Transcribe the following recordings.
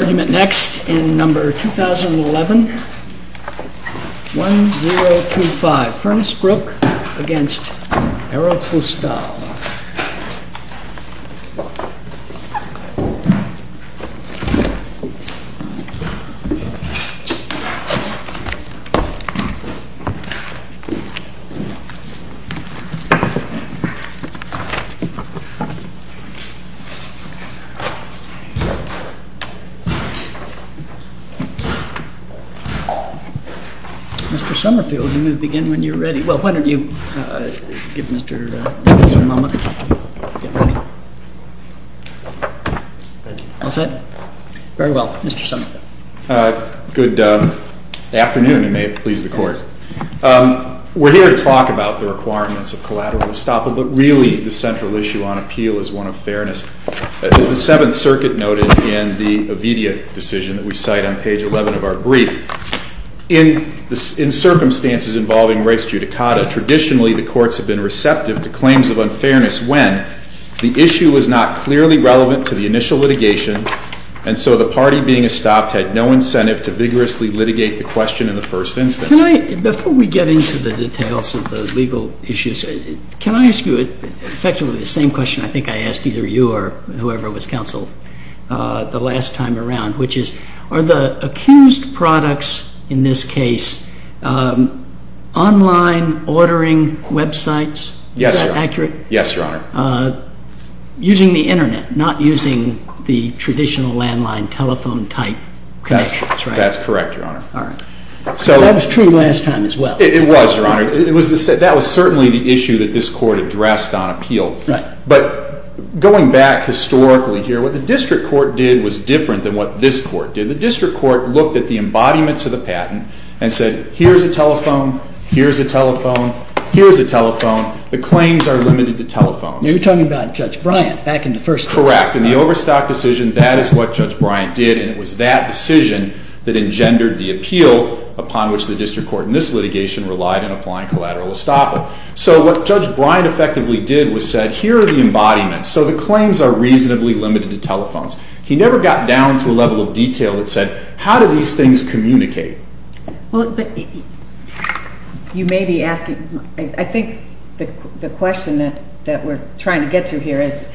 Argument next in number 2011-1025, Furnace Brook v. Aeropostale. Mr. Somerfield, you may begin when you're ready. We're here to talk about the requirements of collateral estoppel, but really the central issue on appeal is one of fairness. As the Seventh Circuit noted in the Ovidia decision that we cite on page 11 of our brief, in circumstances involving res judicata, traditionally the courts have been receptive to claims of unfairness when the issue was not clearly relevant to the initial litigation and so the party being estopped had no incentive to vigorously litigate the question in the first instance. Can I, before we get into the details of the legal issues, can I ask you effectively the same question I think I asked either you or whoever was counsel the last time around, which is, are the accused products, in this case, online ordering websites, is that accurate? Yes, Your Honor. Using the internet, not using the traditional landline telephone type connections, right? That's correct, Your Honor. All right. That was true last time as well. It was, Your Honor. That was certainly the issue that this court addressed on appeal, but going back historically here, what the district court did was different than what this court did. The district court looked at the embodiments of the patent and said, here's a telephone, here's a telephone, here's a telephone. The claims are limited to telephones. You're talking about Judge Bryant back in the first instance. Correct. In the Overstock decision, that is what Judge Bryant did and it was that decision that engendered the appeal upon which the district court in this litigation relied in applying collateral estoppel. So what Judge Bryant effectively did was said, here are the embodiments. So the claims are reasonably limited to telephones. He never got down to a level of detail that said, how do these things communicate? You may be asking, I think the question that we're trying to get to here is,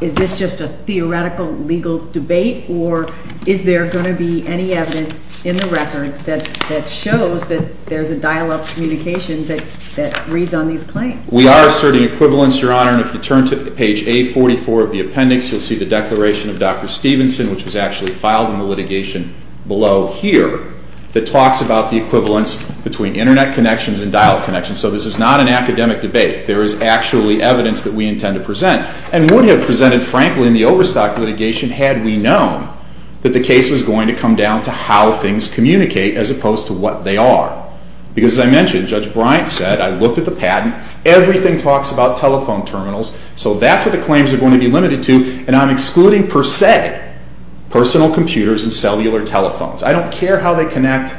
is this just a theoretical legal debate or is there going to be any evidence in the record that shows that there's a dial-up communication that reads on these claims? We are asserting equivalence, Your Honor, and if you turn to page A44 of the appendix, you'll see the declaration of Dr. Stevenson, which was actually filed in the litigation below here, that talks about the equivalence between internet connections and dial-up connections. So this is not an academic debate. There is actually evidence that we intend to present and would have presented, frankly, in the Overstock litigation had we known that the case was going to come down to how things communicate as opposed to what they are. Because as I mentioned, Judge Bryant said, I looked at the patent, everything talks about telephone terminals, so that's what the claims are going to be limited to, and I'm excluding per se personal computers and cellular telephones. I don't care how they connect.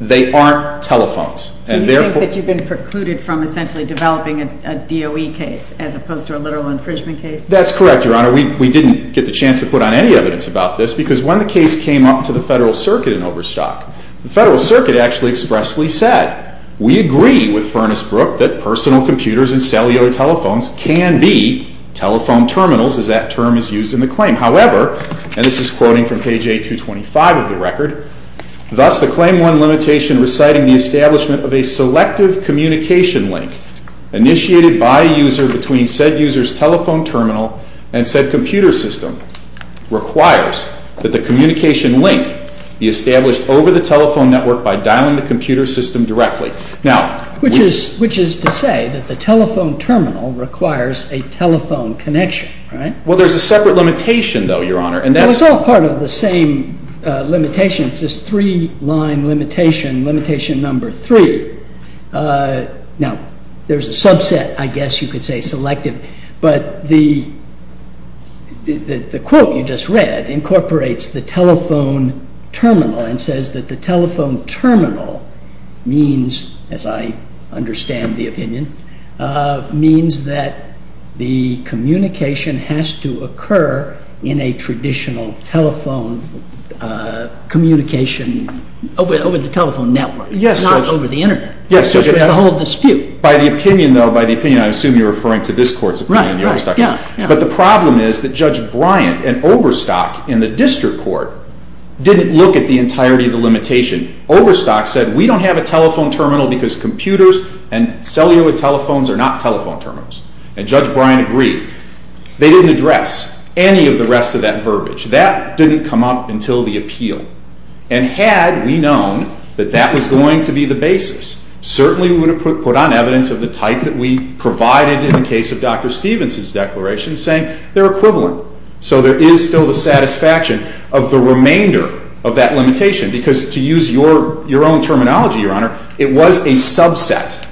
They aren't telephones. Do you think that you've been precluded from essentially developing a DOE case as opposed to a literal infringement case? That's correct, Your Honor. We didn't get the chance to put on any evidence about this because when the case came up to the Federal Circuit in Overstock, the Federal Circuit actually expressly said, we agree with Furnace-Brook that personal computers and cellular telephones can be telephone terminals as that term is used in the claim. However, and this is quoting from page 8-225 of the record, thus the claim won limitation reciting the establishment of a selective communication link initiated by a user between said user's telephone terminal and said computer system requires that the communication link be established over the telephone network by dialing the computer system directly. Which is to say that the telephone terminal requires a telephone connection, right? Well, there's a separate limitation, though, Your Honor, and that's It's all part of the same limitation, it's this three-line limitation, limitation number three. Now, there's a subset, I guess you could say, selective, but the quote you just read incorporates the telephone terminal and says that the telephone terminal means, as I understand the opinion, means that the communication has to occur in a traditional telephone communication over the telephone network, not over the internet. Yes, Judge, yes. It's the whole dispute. By the opinion, though, by the opinion, I assume you're referring to this Court's opinion, the Overstock case. Right, right, yeah. But the problem is that Judge Bryant and Overstock in the District Court didn't look at the entirety of the limitation. Overstock said, we don't have a telephone terminal because computers and cellular telephones are not telephone terminals. And Judge Bryant agreed. They didn't address any of the rest of that verbiage. That didn't come up until the appeal. And had we known that that was going to be the basis, certainly we would have put on evidence of the type that we provided in the case of Dr. Stephenson's declaration saying they're equivalent. So there is still the satisfaction of the remainder of that limitation because, to use your own terminology, Your Honor, it was a subset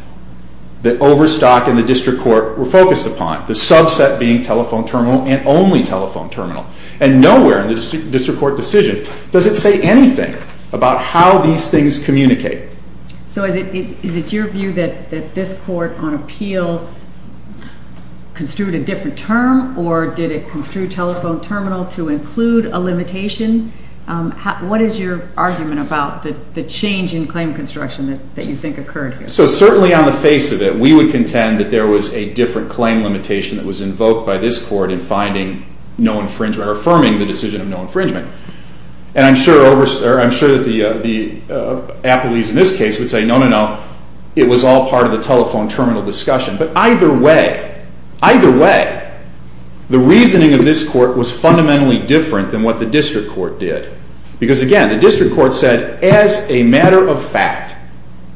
that Overstock and the District Court were focused upon, the subset being telephone terminal and only telephone terminal. And nowhere in the District Court decision does it say anything about how these things communicate. So is it your view that this Court on appeal construed a different term or did it construe telephone terminal to include a limitation? What is your argument about the change in claim construction that you think occurred here? So certainly on the face of it, we would contend that there was a different claim limitation that was invoked by this Court in finding no infringement or affirming the decision of no infringement. And I'm sure that the appellees in this case would say, no, no, no. It was all part of the telephone terminal discussion. But either way, either way, the reasoning of this Court was fundamentally different than what the District Court did. Because again, the District Court said, as a matter of fact,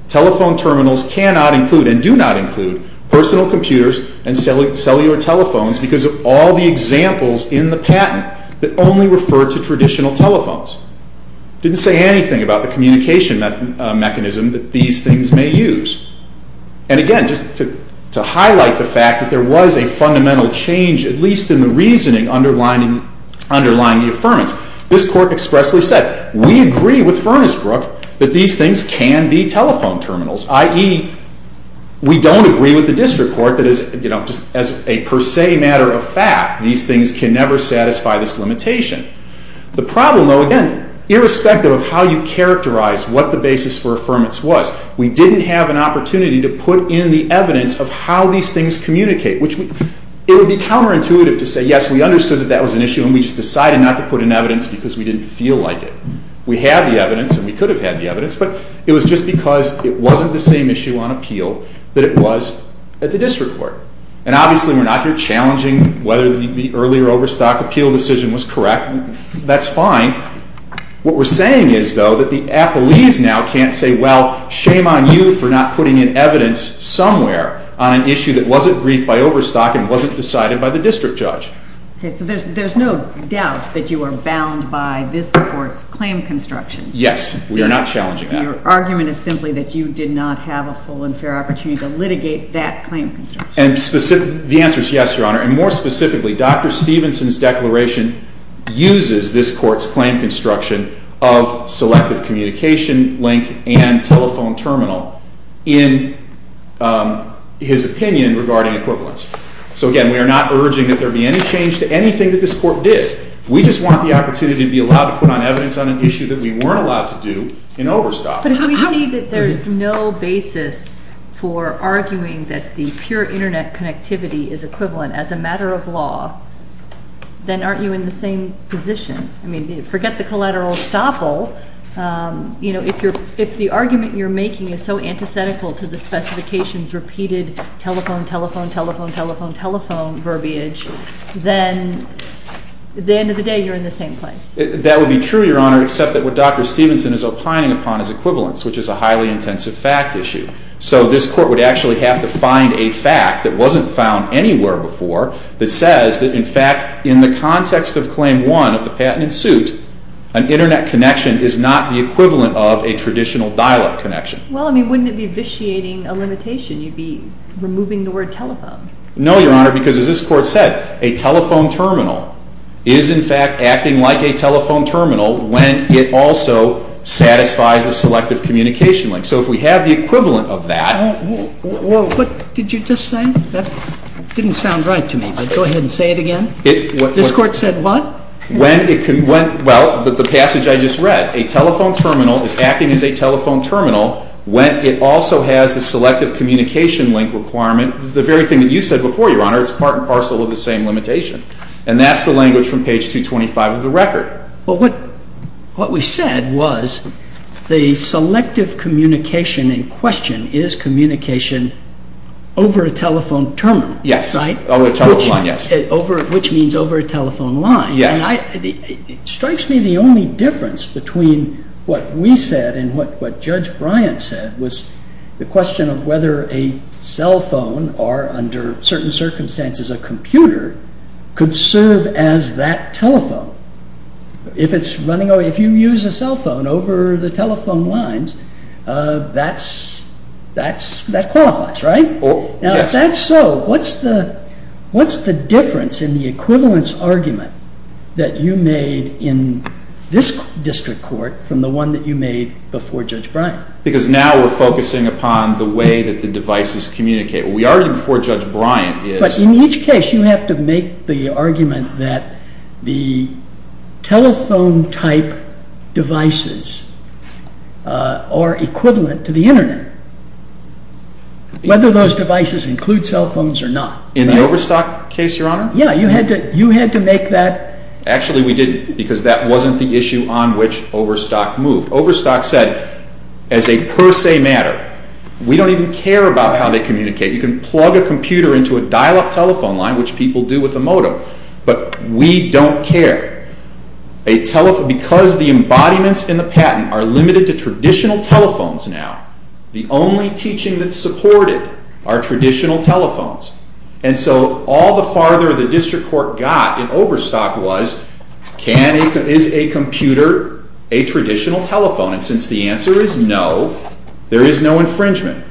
telephone terminals cannot include and do not include personal computers and cellular telephones because of all the examples in the patent that only refer to traditional telephones. It didn't say anything about the communication mechanism that these things may use. And again, just to highlight the fact that there was a fundamental change, at least in the reasoning underlying the affirmance, this Court expressly said, we agree with Furnace Telephone Terminals, i.e., we don't agree with the District Court that, as a per se matter of fact, these things can never satisfy this limitation. The problem, though, again, irrespective of how you characterize what the basis for affirmance was, we didn't have an opportunity to put in the evidence of how these things communicate, which it would be counterintuitive to say, yes, we understood that that was an issue and we just decided not to put in evidence because we didn't feel like it. We had the evidence and we could have had the evidence, but it was just because it wasn't the same issue on appeal that it was at the District Court. And obviously, we're not here challenging whether the earlier Overstock appeal decision was correct. That's fine. What we're saying is, though, that the appellees now can't say, well, shame on you for not putting in evidence somewhere on an issue that wasn't briefed by Overstock and wasn't decided by the District Judge. So there's no doubt that you are bound by this Court's claim construction. Yes, we are not challenging that. Your argument is simply that you did not have a full and fair opportunity to litigate that claim construction. The answer is yes, Your Honor, and more specifically, Dr. Stevenson's declaration uses this Court's claim construction of selective communication link and telephone terminal in his opinion regarding equivalence. So again, we are not urging that there be any change to anything that this Court did. We just want the opportunity to be allowed to put on evidence on an issue that we weren't allowed to do in Overstock. But if we see that there's no basis for arguing that the pure Internet connectivity is equivalent as a matter of law, then aren't you in the same position? I mean, forget the collateral estoppel. You know, if the argument you're making is so antithetical to the specifications repeated telephone, telephone, telephone, telephone, telephone verbiage, then at the end of the day you're in the same place. That would be true, Your Honor, except that what Dr. Stevenson is opining upon is equivalence, which is a highly intensive fact issue. So this Court would actually have to find a fact that wasn't found anywhere before that says that in fact, in the context of Claim 1 of the Patent and Suit, an Internet connection is not the equivalent of a traditional dial-up connection. Well, I mean, wouldn't it be vitiating a limitation? You'd be removing the word telephone. No, Your Honor, because as this Court said, a telephone terminal is in fact acting like a telephone terminal when it also satisfies the selective communication link. So if we have the equivalent of that. Whoa, what did you just say? That didn't sound right to me, but go ahead and say it again. This Court said what? When it can, well, the passage I just read, a telephone terminal is acting as a telephone terminal when it also has the selective communication link requirement, the very thing that you said before, Your Honor. It's part and parcel of the same limitation. And that's the language from page 225 of the record. Well, what we said was the selective communication in question is communication over a telephone terminal. Yes. Right? Over a telephone line, yes. Which means over a telephone line. Yes. It strikes me the only difference between what we said and what Judge Bryant said was the question of whether a cell phone, or under certain circumstances a computer, could serve as that telephone. If it's running over, if you use a cell phone over the telephone lines, that qualifies, right? Yes. If that's so, what's the difference in the equivalence argument that you made in this district court from the one that you made before Judge Bryant? Because now we're focusing upon the way that the devices communicate. We argued before Judge Bryant is... But in each case, you have to make the argument that the telephone-type devices are equivalent to the Internet. Whether those devices include cell phones or not. In the Overstock case, Your Honor? Yes. You had to make that... Actually, we didn't because that wasn't the issue on which Overstock moved. Overstock said, as a per se matter, we don't even care about how they communicate. You can plug a computer into a dial-up telephone line, which people do with a modem, but we don't care. A telephone... Because the embodiments in the patent are limited to traditional telephones now, the only teaching that's supported are traditional telephones. And so all the farther the district court got in Overstock was, is a computer a traditional telephone? And since the answer is no, there is no infringement.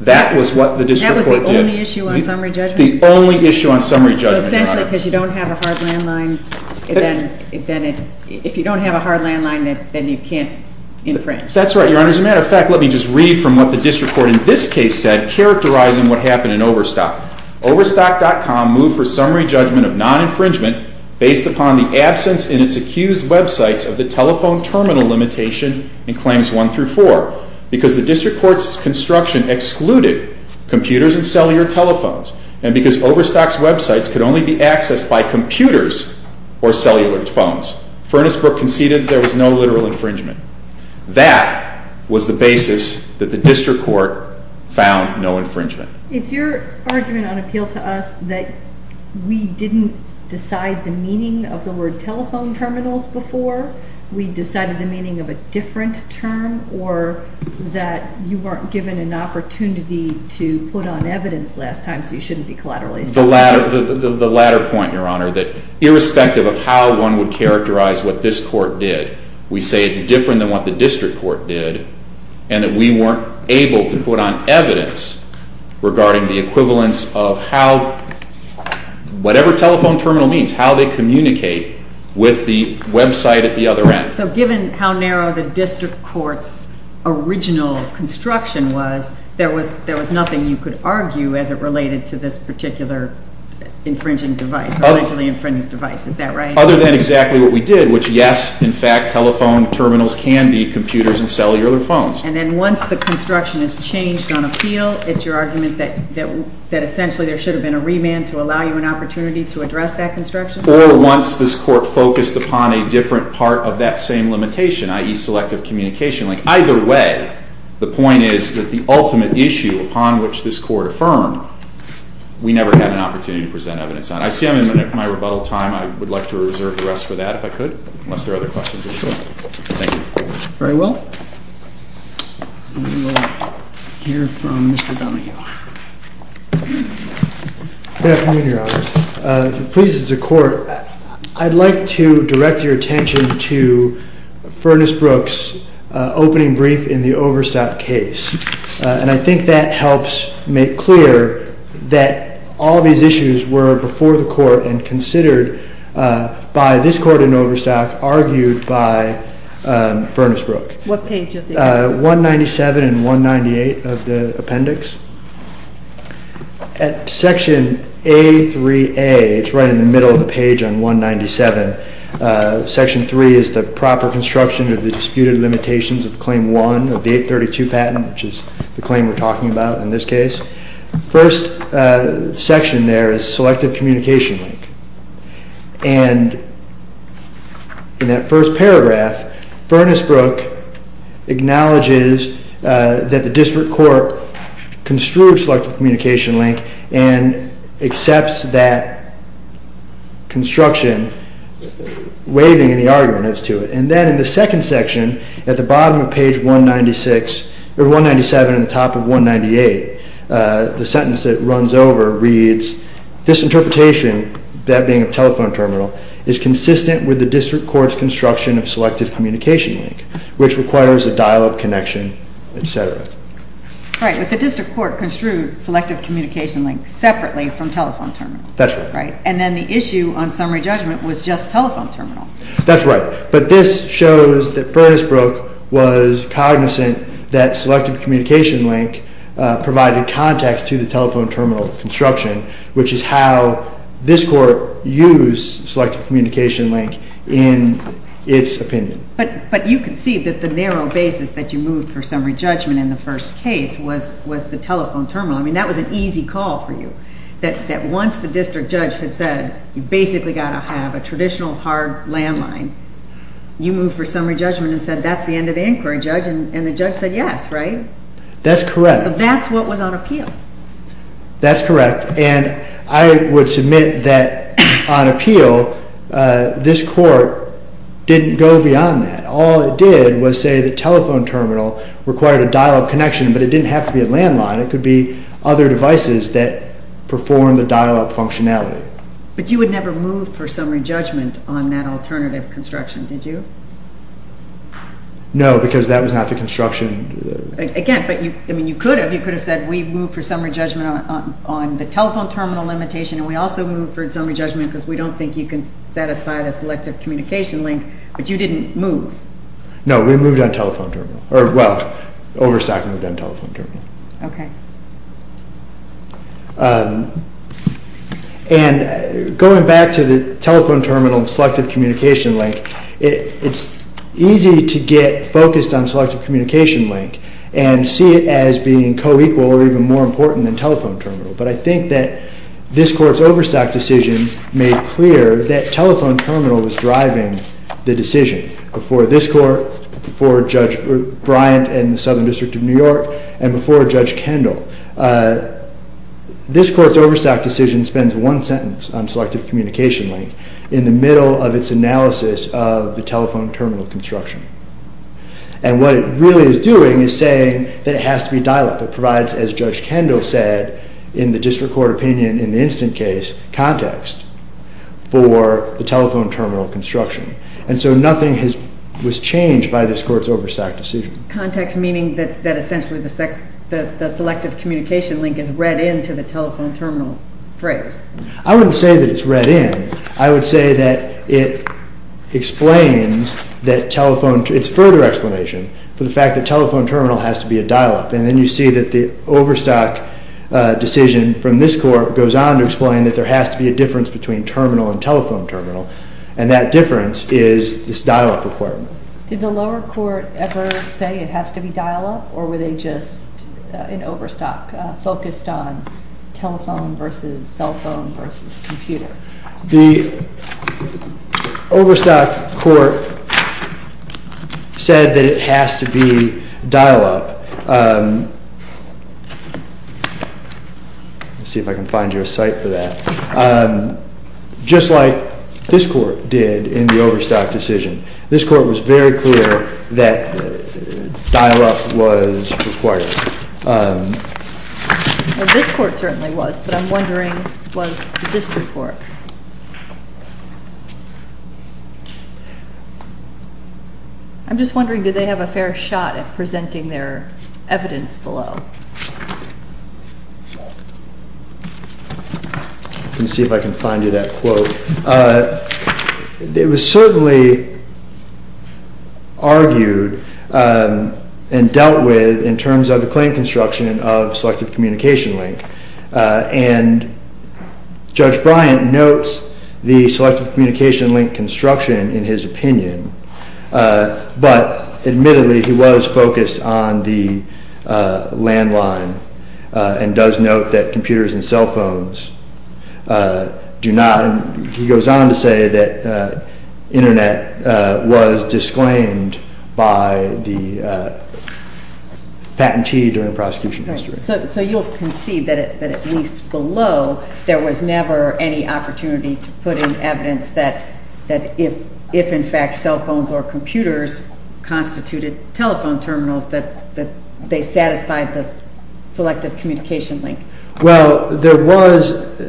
That was what the district court did. That was the only issue on summary judgment? The only issue on summary judgment, Your Honor. So essentially, because you don't have a hard landline, then if you don't have a hard landline, then you can't infringe? That's right, Your Honor. As a matter of fact, let me just read from what the district court in this case said, characterizing what happened in Overstock. Overstock.com moved for summary judgment of non-infringement based upon the absence in its accused websites of the telephone terminal limitation in Claims 1 through 4. Because the district court's construction excluded computers and cellular telephones, and because Overstock's websites could only be accessed by computers or cellular phones. Furnacebrook conceded there was no literal infringement. That was the basis that the district court found no infringement. Is your argument on appeal to us that we didn't decide the meaning of the word telephone terminals before? We decided the meaning of a different term or that you weren't given an opportunity to put on evidence last time, so you shouldn't be collateralizing. The latter point, Your Honor, that irrespective of how one would characterize what this court did, we say it's different than what the district court did and that we weren't able to put on evidence regarding the equivalence of how, whatever telephone terminal means, how they communicate with the website at the other end. So given how narrow the district court's original construction was, there was nothing you could argue as it related to this particular infringing device, allegedly infringing device, is that right? Other than exactly what we did, which yes, in fact, telephone terminals can be computers and cellular phones. And then once the construction is changed on appeal, it's your argument that essentially there should have been a remand to allow you an opportunity to address that construction? Or once this court focused upon a different part of that same limitation, i.e., selective communication. Like either way, the point is that the ultimate issue upon which this court affirmed, we never had an opportunity to present evidence on. I see I'm in my rebuttal time. I would like to reserve the rest for that, if I could, unless there are other questions or so. Thank you. Very well. We will hear from Mr. Bumahill. Good afternoon, Your Honor. If it pleases the Court, I'd like to direct your attention to Furnace Brooks' opening brief in the Overstock case. And I think that helps make clear that all these issues were before the Court and considered by this Court in Overstock, argued by Furnace Brooks. What page of the appendix? 197 and 198 of the appendix. At section A3A, it's right in the middle of the page on 197, section 3 is the proper construction of the disputed limitations of Claim 1 of the 832 patent, which is the claim we're talking about in this case. First section there is selective communication link. And in that first paragraph, Furnace Brooks acknowledges that the district court construed selective communication link and accepts that construction, waiving any arguments to it. And then in the second section, at the bottom of page 196, or 197 and the top of 198, the sentence that runs over reads, this interpretation, that being a telephone terminal, is consistent with the district court's construction of selective communication link, which requires a dial-up connection, et cetera. Right. But the district court construed selective communication link separately from telephone terminal. That's right. Right. And then the issue on summary judgment was just telephone terminal. That's right. But this shows that Furnace Brooks was cognizant that selective communication link provided context to the telephone terminal construction, which is how this court used selective communication link in its opinion. But you can see that the narrow basis that you moved for summary judgment in the first case was the telephone terminal. I mean, that was an easy call for you, that once the district judge had said, you basically got to have a traditional hard landline, you moved for summary judgment and said, that's the end of the inquiry, Judge, and the judge said yes, right? That's correct. So that's what was on appeal. That's correct. And I would submit that on appeal, this court didn't go beyond that. All it did was say the telephone terminal required a dial-up connection, but it didn't have to be a landline. It could be other devices that perform the dial-up functionality. But you would never move for summary judgment on that alternative construction, did you? No, because that was not the construction... Again, but you could have. You could have said, we moved for summary judgment on the telephone terminal limitation, and we also moved for summary judgment because we don't think you can satisfy the selective communication link, but you didn't move. No, we moved on telephone terminal. Well, Overstock moved on telephone terminal. Okay. And going back to the telephone terminal and selective communication link, it's easy to get focused on selective communication link and see it as being co-equal or even more important than telephone terminal. But I think that this court's Overstock decision made clear that telephone terminal was driving the decision before this court, before Judge Bryant and the Southern District of New York, and before Judge Kendall. This court's Overstock decision spends one sentence on selective communication link in the middle of its analysis of the telephone terminal construction. And what it really is doing is saying that it has to be dial-up. It provides, as Judge Kendall said in the district court opinion in the instant case, context for the telephone terminal construction. And so nothing was changed by this court's Overstock decision. Context meaning that essentially the selective communication link is read into the telephone terminal phrase. I wouldn't say that it's read in. I would say that it explains that telephone, it's further explanation for the fact that telephone terminal has to be a dial-up. And then you see that the Overstock decision from this court goes on to explain that there has to be a difference between terminal and telephone terminal. And that difference is this dial-up requirement. Did the lower court ever say it has to be dial-up or were they just, in Overstock, focused on telephone versus cell phone versus computer? The Overstock court said that it has to be dial-up. Let's see if I can find you a site for that. Just like this court did in the Overstock decision. This court was very clear that dial-up was required. Well, this court certainly was, but I'm wondering was the district court. I'm just wondering, did they have a fair shot at presenting their evidence below? Let me see if I can find you that quote. It was certainly argued and dealt with in terms of the claim construction of selective communication link. And Judge Bryant notes the selective communication link construction in his opinion. But admittedly, he was focused on the landline and does note that computers and cell phones do not, he goes on to say that internet was disclaimed by the patentee during prosecution history. So you'll concede that at least below, there was never any opportunity to put in evidence that if in fact cell phones or computers constituted telephone terminals, that they satisfied the selective communication link. Well, there was,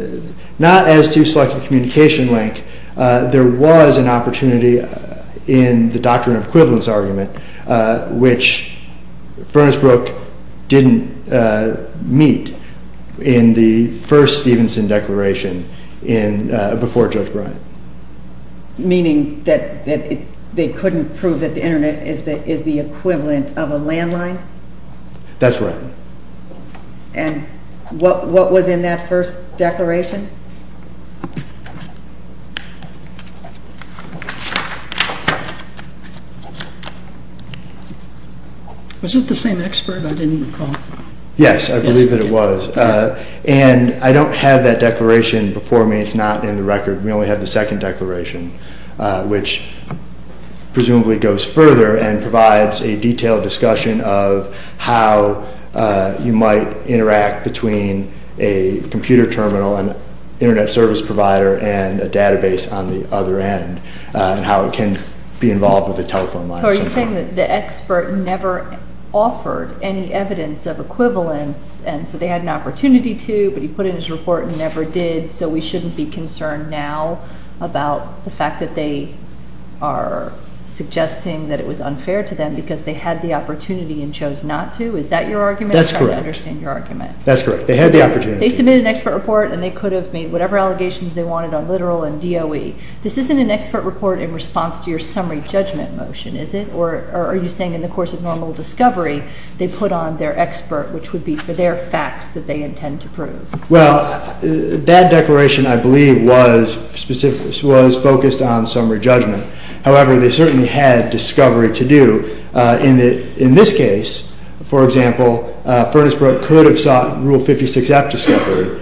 not as to selective communication link. There was an opportunity in the doctrine of equivalence argument, which Furnace Brook didn't meet in the first Stevenson declaration before Judge Bryant. Meaning that they couldn't prove that the internet is the equivalent of a landline? That's right. And what was in that first declaration? Was it the same expert I didn't recall? Yes, I believe that it was. And I don't have that declaration before me. It's not in the record. We only have the second declaration, which presumably goes further and provides a detailed discussion of how you might interact between a computer terminal and internet service provider and a database on the other end and how it can be involved with the telephone line. So are you saying that the expert never offered any evidence of equivalence and so they had an opportunity to, but he put in his report and never did, so we shouldn't be concerned now about the fact that they are suggesting that it was unfair to them because they had the opportunity and chose not to? Is that your argument? That's correct. I don't understand your argument. That's correct. They had the opportunity. They submitted an expert report and they could have made whatever allegations they wanted on literal and DOE. This isn't an expert report in response to your summary judgment motion, is it? Or are you saying in the course of normal discovery they put on their expert, which would be for their facts that they intend to prove? Well, that declaration, I believe, was focused on summary judgment. However, they certainly had discovery to do. In this case, for example, Furnacebrook could have sought Rule 56-F discovery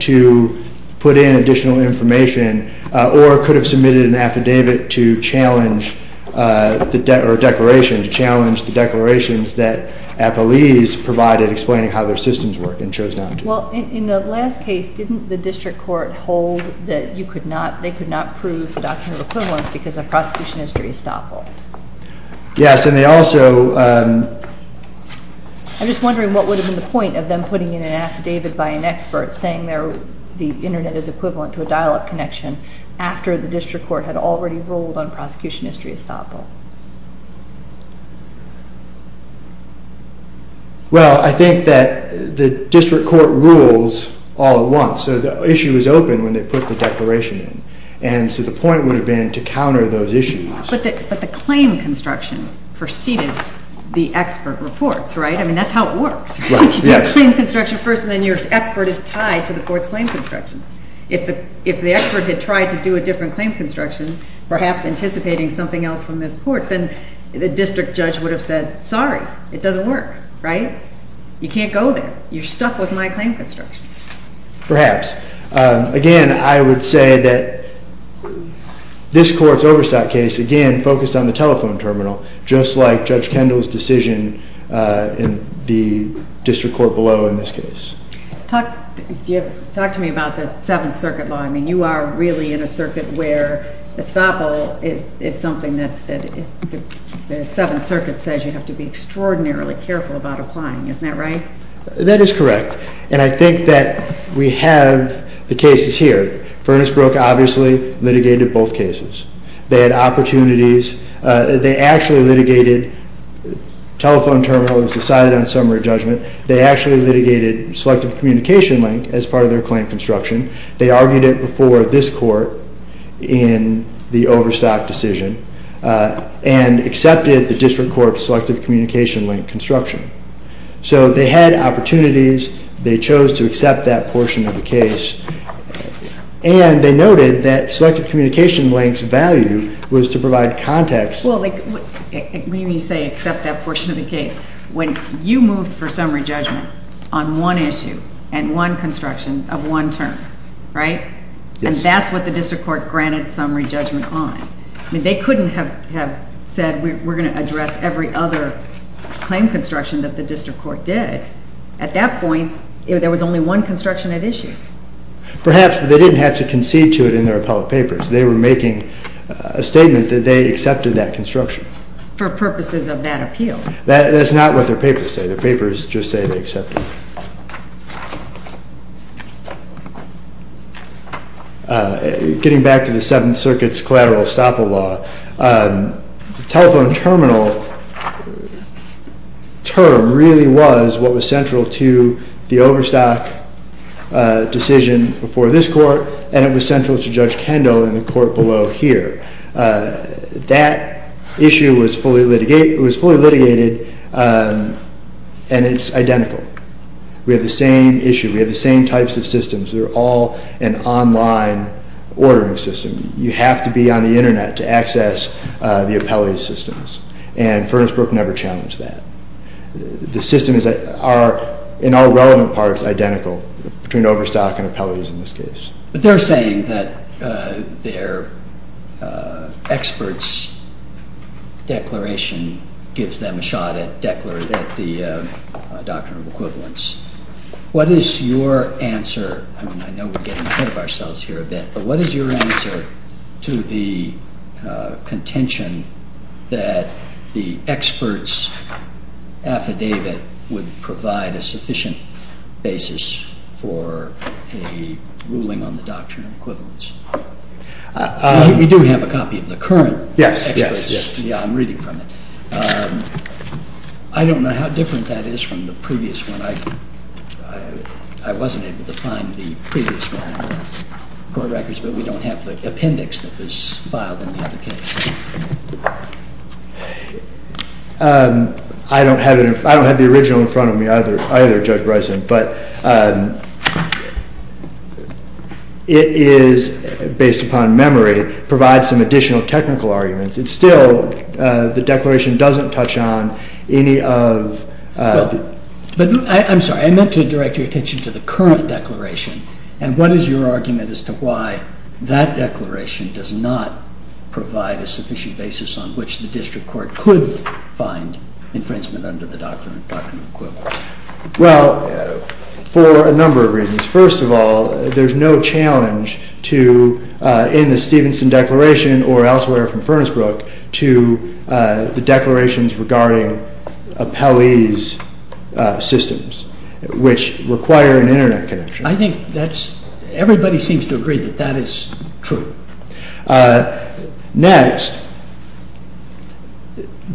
to put in additional information or could have submitted an affidavit to challenge the declaration, to challenge the declarations that Appellees provided explaining how their systems work and chose not to. Well, in the last case, didn't the district court hold that you could not, they could not prove the document of equivalence because of prosecution history estoppel? Yes, and they also... I'm just wondering what would have been the point of them putting in an affidavit by an expert saying the Internet is equivalent to a dial-up connection after the district court had already ruled on prosecution history estoppel? Well, I think that the district court rules all at once, so the issue is open when they put the declaration in. And so the point would have been to counter those issues. But the claim construction preceded the expert reports, right? I mean, that's how it works, right? You do a claim construction first and then your expert is tied to the court's claim construction. If the expert had tried to do a different claim construction, perhaps anticipating something else from this court, then the district judge would have said, sorry, it doesn't work, right? You can't go there. You're stuck with my claim construction. Perhaps. Again, I would say that this court's overstock case, again, focused on the telephone terminal, just like Judge Kendall's decision in the district court below in this case. Talk to me about the Seventh Circuit law. I mean, you are really in a circuit where estoppel is something that the Seventh Circuit says you have to be extraordinarily careful about applying. Isn't that right? That is correct. And I think that we have the cases here. Furnace Brook obviously litigated both cases. They had opportunities. They actually litigated telephone terminals decided on summary judgment. They actually litigated selective communication link as part of their claim construction. They argued it before this court in the overstock decision and accepted the district court's selective communication link construction. So they had opportunities. They chose to accept that portion of the case. And they noted that selective communication link's value was to provide context. Well, when you say accept that portion of the case, when you moved for summary judgment on one issue and one construction of one term, right? And that's what the district court granted summary judgment on. I mean, they couldn't have said we're going to address every other claim construction that the district court did. At that point, there was only one construction at issue. Perhaps, but they didn't have to concede to it in their appellate papers. They were making a statement that they accepted that construction. For purposes of that appeal. That's not what their papers say. Their papers just say they accepted it. Getting back to the Seventh Circuit's collateral estoppel law. Telephone terminal term really was what was central to the overstock decision before this court. And it was central to Judge Kendall in the court below here. That issue was fully litigated and it's identical. We have the same issue. We have the same types of systems. They're all an online ordering system. You have to be on the internet to access the appellate systems. And Furnace Brook never challenged that. The systems are, in all relevant parts, identical between overstock and appellate in this case. But they're saying that their expert's declaration gives them a shot at the doctrine of equivalence. What is your answer? I mean, I know we're getting ahead of ourselves here a bit. But what is your answer to the contention that the expert's affidavit would provide a sufficient basis for a ruling on the doctrine of equivalence? We do have a copy of the current expert's. Yeah, I'm reading from it. I don't know how different that is from the previous one. I wasn't able to find the previous one in the court records. But we don't have the appendix that was filed in the other case. I don't have the original in front of me either, Judge Bryson. But it is, based upon memory, provides some additional technical arguments. It's still, the declaration doesn't touch on any of the... But, I'm sorry, I meant to direct your attention to the current declaration. And what is your argument as to why that declaration does not provide a sufficient basis on which the district court could find infringement under the doctrine of equivalence? First of all, there's no challenge to, in the Stevenson Declaration or elsewhere from Furnace Brook, to the declarations regarding appellees' systems, which require an internet connection. I think that's, everybody seems to agree that that is true. Next,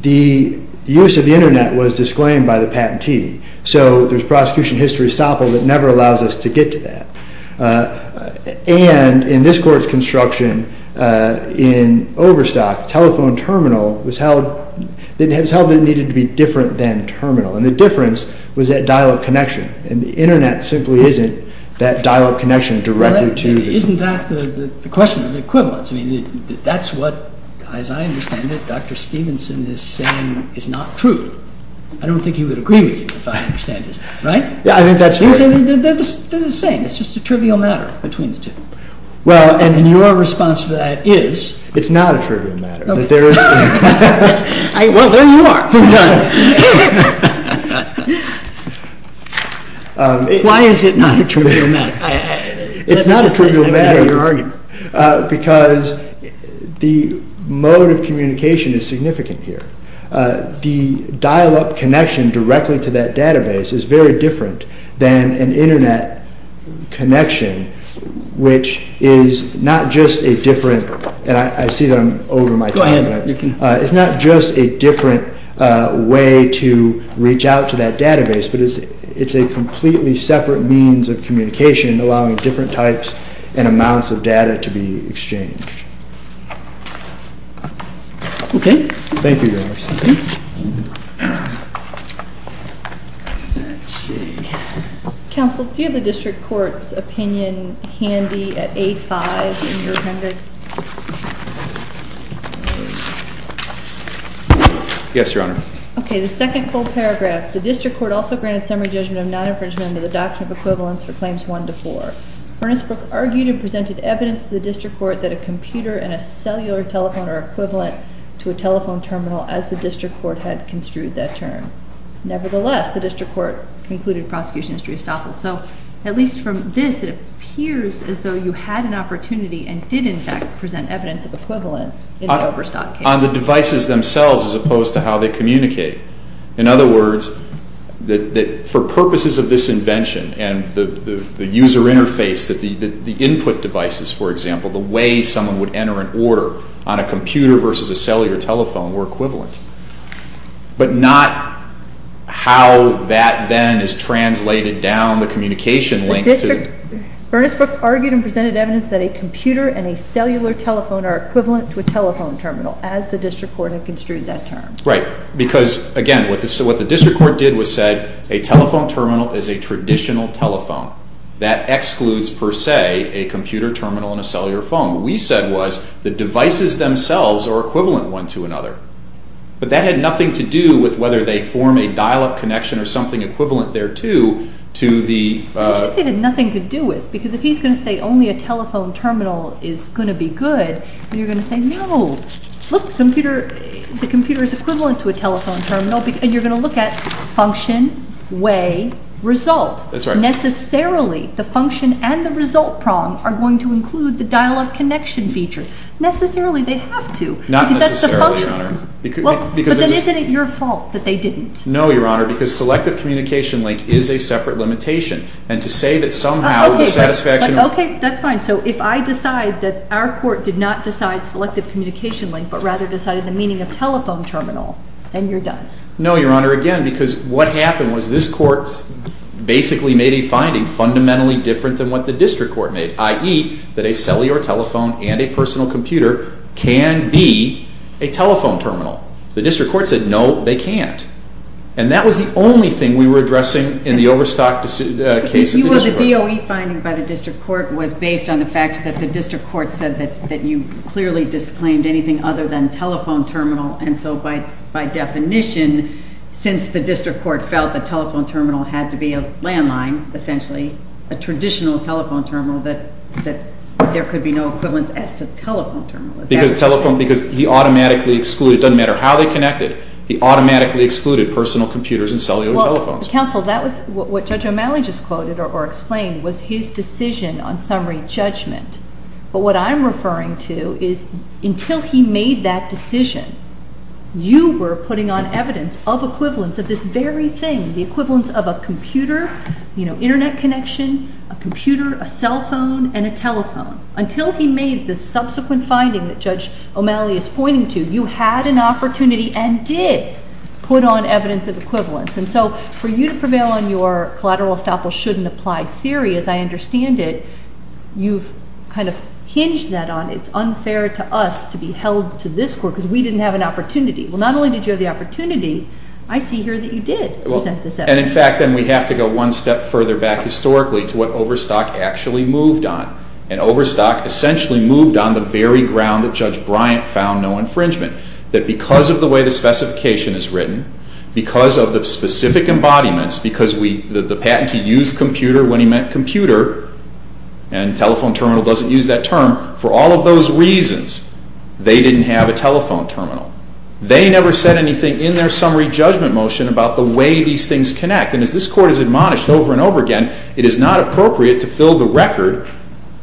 the use of the internet was disclaimed by the patentee. So, there's prosecution history estoppel that never allows us to get to that. And, in this court's construction, in Overstock, telephone terminal was held, it was held that it needed to be different than terminal. And the difference was that dial-up connection. And the internet simply isn't that dial-up connection directly to... Isn't that the question of equivalence? I mean, that's what, as I understand it, Dr. Stevenson is saying is not true. I don't think he would agree with you, if I understand this. Right? Yeah, I think that's right. There's a saying, it's just a trivial matter between the two. Well, and your response to that is... It's not a trivial matter. Okay. Well, there you are. Why is it not a trivial matter? It's not a trivial matter because the mode of communication is significant here. The dial-up connection directly to that database is very different than an internet connection, which is not just a different... And I see that I'm over my time. Go ahead. It's not just a different way to reach out to that database, but it's a completely separate means of communication, allowing different types and amounts of data to be exchanged. Okay. Thank you, guys. Let's see. Counsel, do you have the district court's opinion handy at A5 in your appendix? Yes, Your Honor. Okay, the second full paragraph. The district court also granted summary judgment of non-infringement under the Doctrine of Equivalence for Claims 1 to 4. Ernest Brooke argued and presented evidence to the district court that a computer and a cellular telephone are equivalent to a telephone terminal, as the district court had construed that term. Nevertheless, the district court concluded prosecution history is tough. So, at least from this, it appears as though you had an opportunity and did, in fact, present evidence of equivalence in the Overstock case. On the devices themselves, as opposed to how they communicate. In other words, for purposes of this invention and the user interface, the input devices, for example, the way someone would enter an order on a computer versus a cellular telephone were equivalent. But not how that then is translated down the communication link. Ernest Brooke argued and presented evidence that a computer and a cellular telephone are equivalent to a telephone terminal, as the district court had construed that term. Right. Because, again, what the district court did was said a telephone terminal is a traditional telephone. That excludes, per se, a computer terminal and a cellular phone. What we said was the devices themselves are equivalent one to another. But that had nothing to do with whether they form a dial-up connection or something equivalent thereto to the... It had nothing to do with. Because if he's going to say only a telephone terminal is going to be good, then you're going to say, no, look, the computer is equivalent to a telephone terminal. And you're going to look at function, way, result. That's right. Necessarily, the function and the result prong are going to include the dial-up connection feature. Necessarily, they have to. Not necessarily, Your Honor. Because that's the function. But then isn't it your fault that they didn't? No, Your Honor, because selective communication link is a separate limitation. And to say that somehow the satisfaction... Okay, that's fine. So if I decide that our court did not decide selective communication link but rather decided the meaning of telephone terminal, then you're done. No, Your Honor. Again, because what happened was this court basically made a finding fundamentally different than what the district court made, i.e., that a cellular telephone and a personal computer can be a telephone terminal. The district court said, no, they can't. And that was the only thing we were addressing in the Overstock case. The DOE finding by the district court was based on the fact that the district court said that you clearly disclaimed anything other than telephone terminal. And so by definition, since the district court felt that telephone terminal had to be a landline, essentially, a traditional telephone terminal, that there could be no equivalence as to telephone terminal. Because he automatically excluded, it doesn't matter how they connected, he automatically excluded personal computers and cellular telephones. Counsel, what Judge O'Malley just quoted or explained was his decision on summary judgment. But what I'm referring to is until he made that decision, you were putting on evidence of equivalence of this very thing, the equivalence of a computer, Internet connection, a computer, a cell phone, and a telephone. Until he made the subsequent finding that Judge O'Malley is pointing to, you had an opportunity and did put on evidence of equivalence. And so for you to prevail on your collateral estoppel shouldn't apply theory, as I understand it, you've kind of hinged that on it's unfair to us to be held to this court because we didn't have an opportunity. Well, not only did you have the opportunity, I see here that you did present this evidence. And in fact, then we have to go one step further back historically to what Overstock actually moved on. And Overstock essentially moved on the very ground that Judge Bryant found no infringement. That because of the way the specification is written, because of the specific embodiments, because the patentee used computer when he meant computer, and telephone terminal doesn't use that term, for all of those reasons, they didn't have a telephone terminal. They never said anything in their summary judgment motion about the way these things connect. And as this court has admonished over and over again, it is not appropriate to fill the record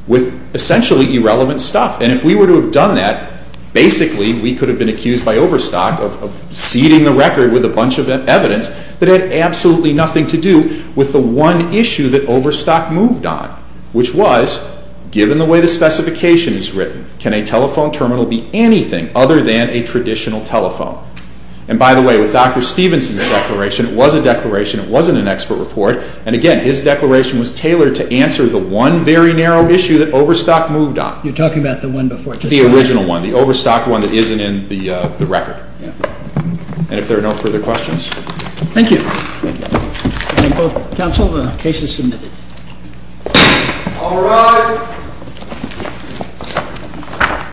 with essentially irrelevant stuff. And if we were to have done that, basically we could have been accused by Overstock of seeding the record with a bunch of evidence that had absolutely nothing to do with the one issue that Overstock moved on. Which was, given the way the specification is written, can a telephone terminal be anything other than a traditional telephone? And by the way, with Dr. Stevenson's declaration, it was a declaration, it wasn't an expert report, and again, his declaration was tailored to answer the one very narrow issue that Overstock moved on. You're talking about the one before Judge Bryant? The original one, the Overstock one that isn't in the record. And if there are no further questions. Thank you. Thank you both. Counsel, the case is submitted. All rise.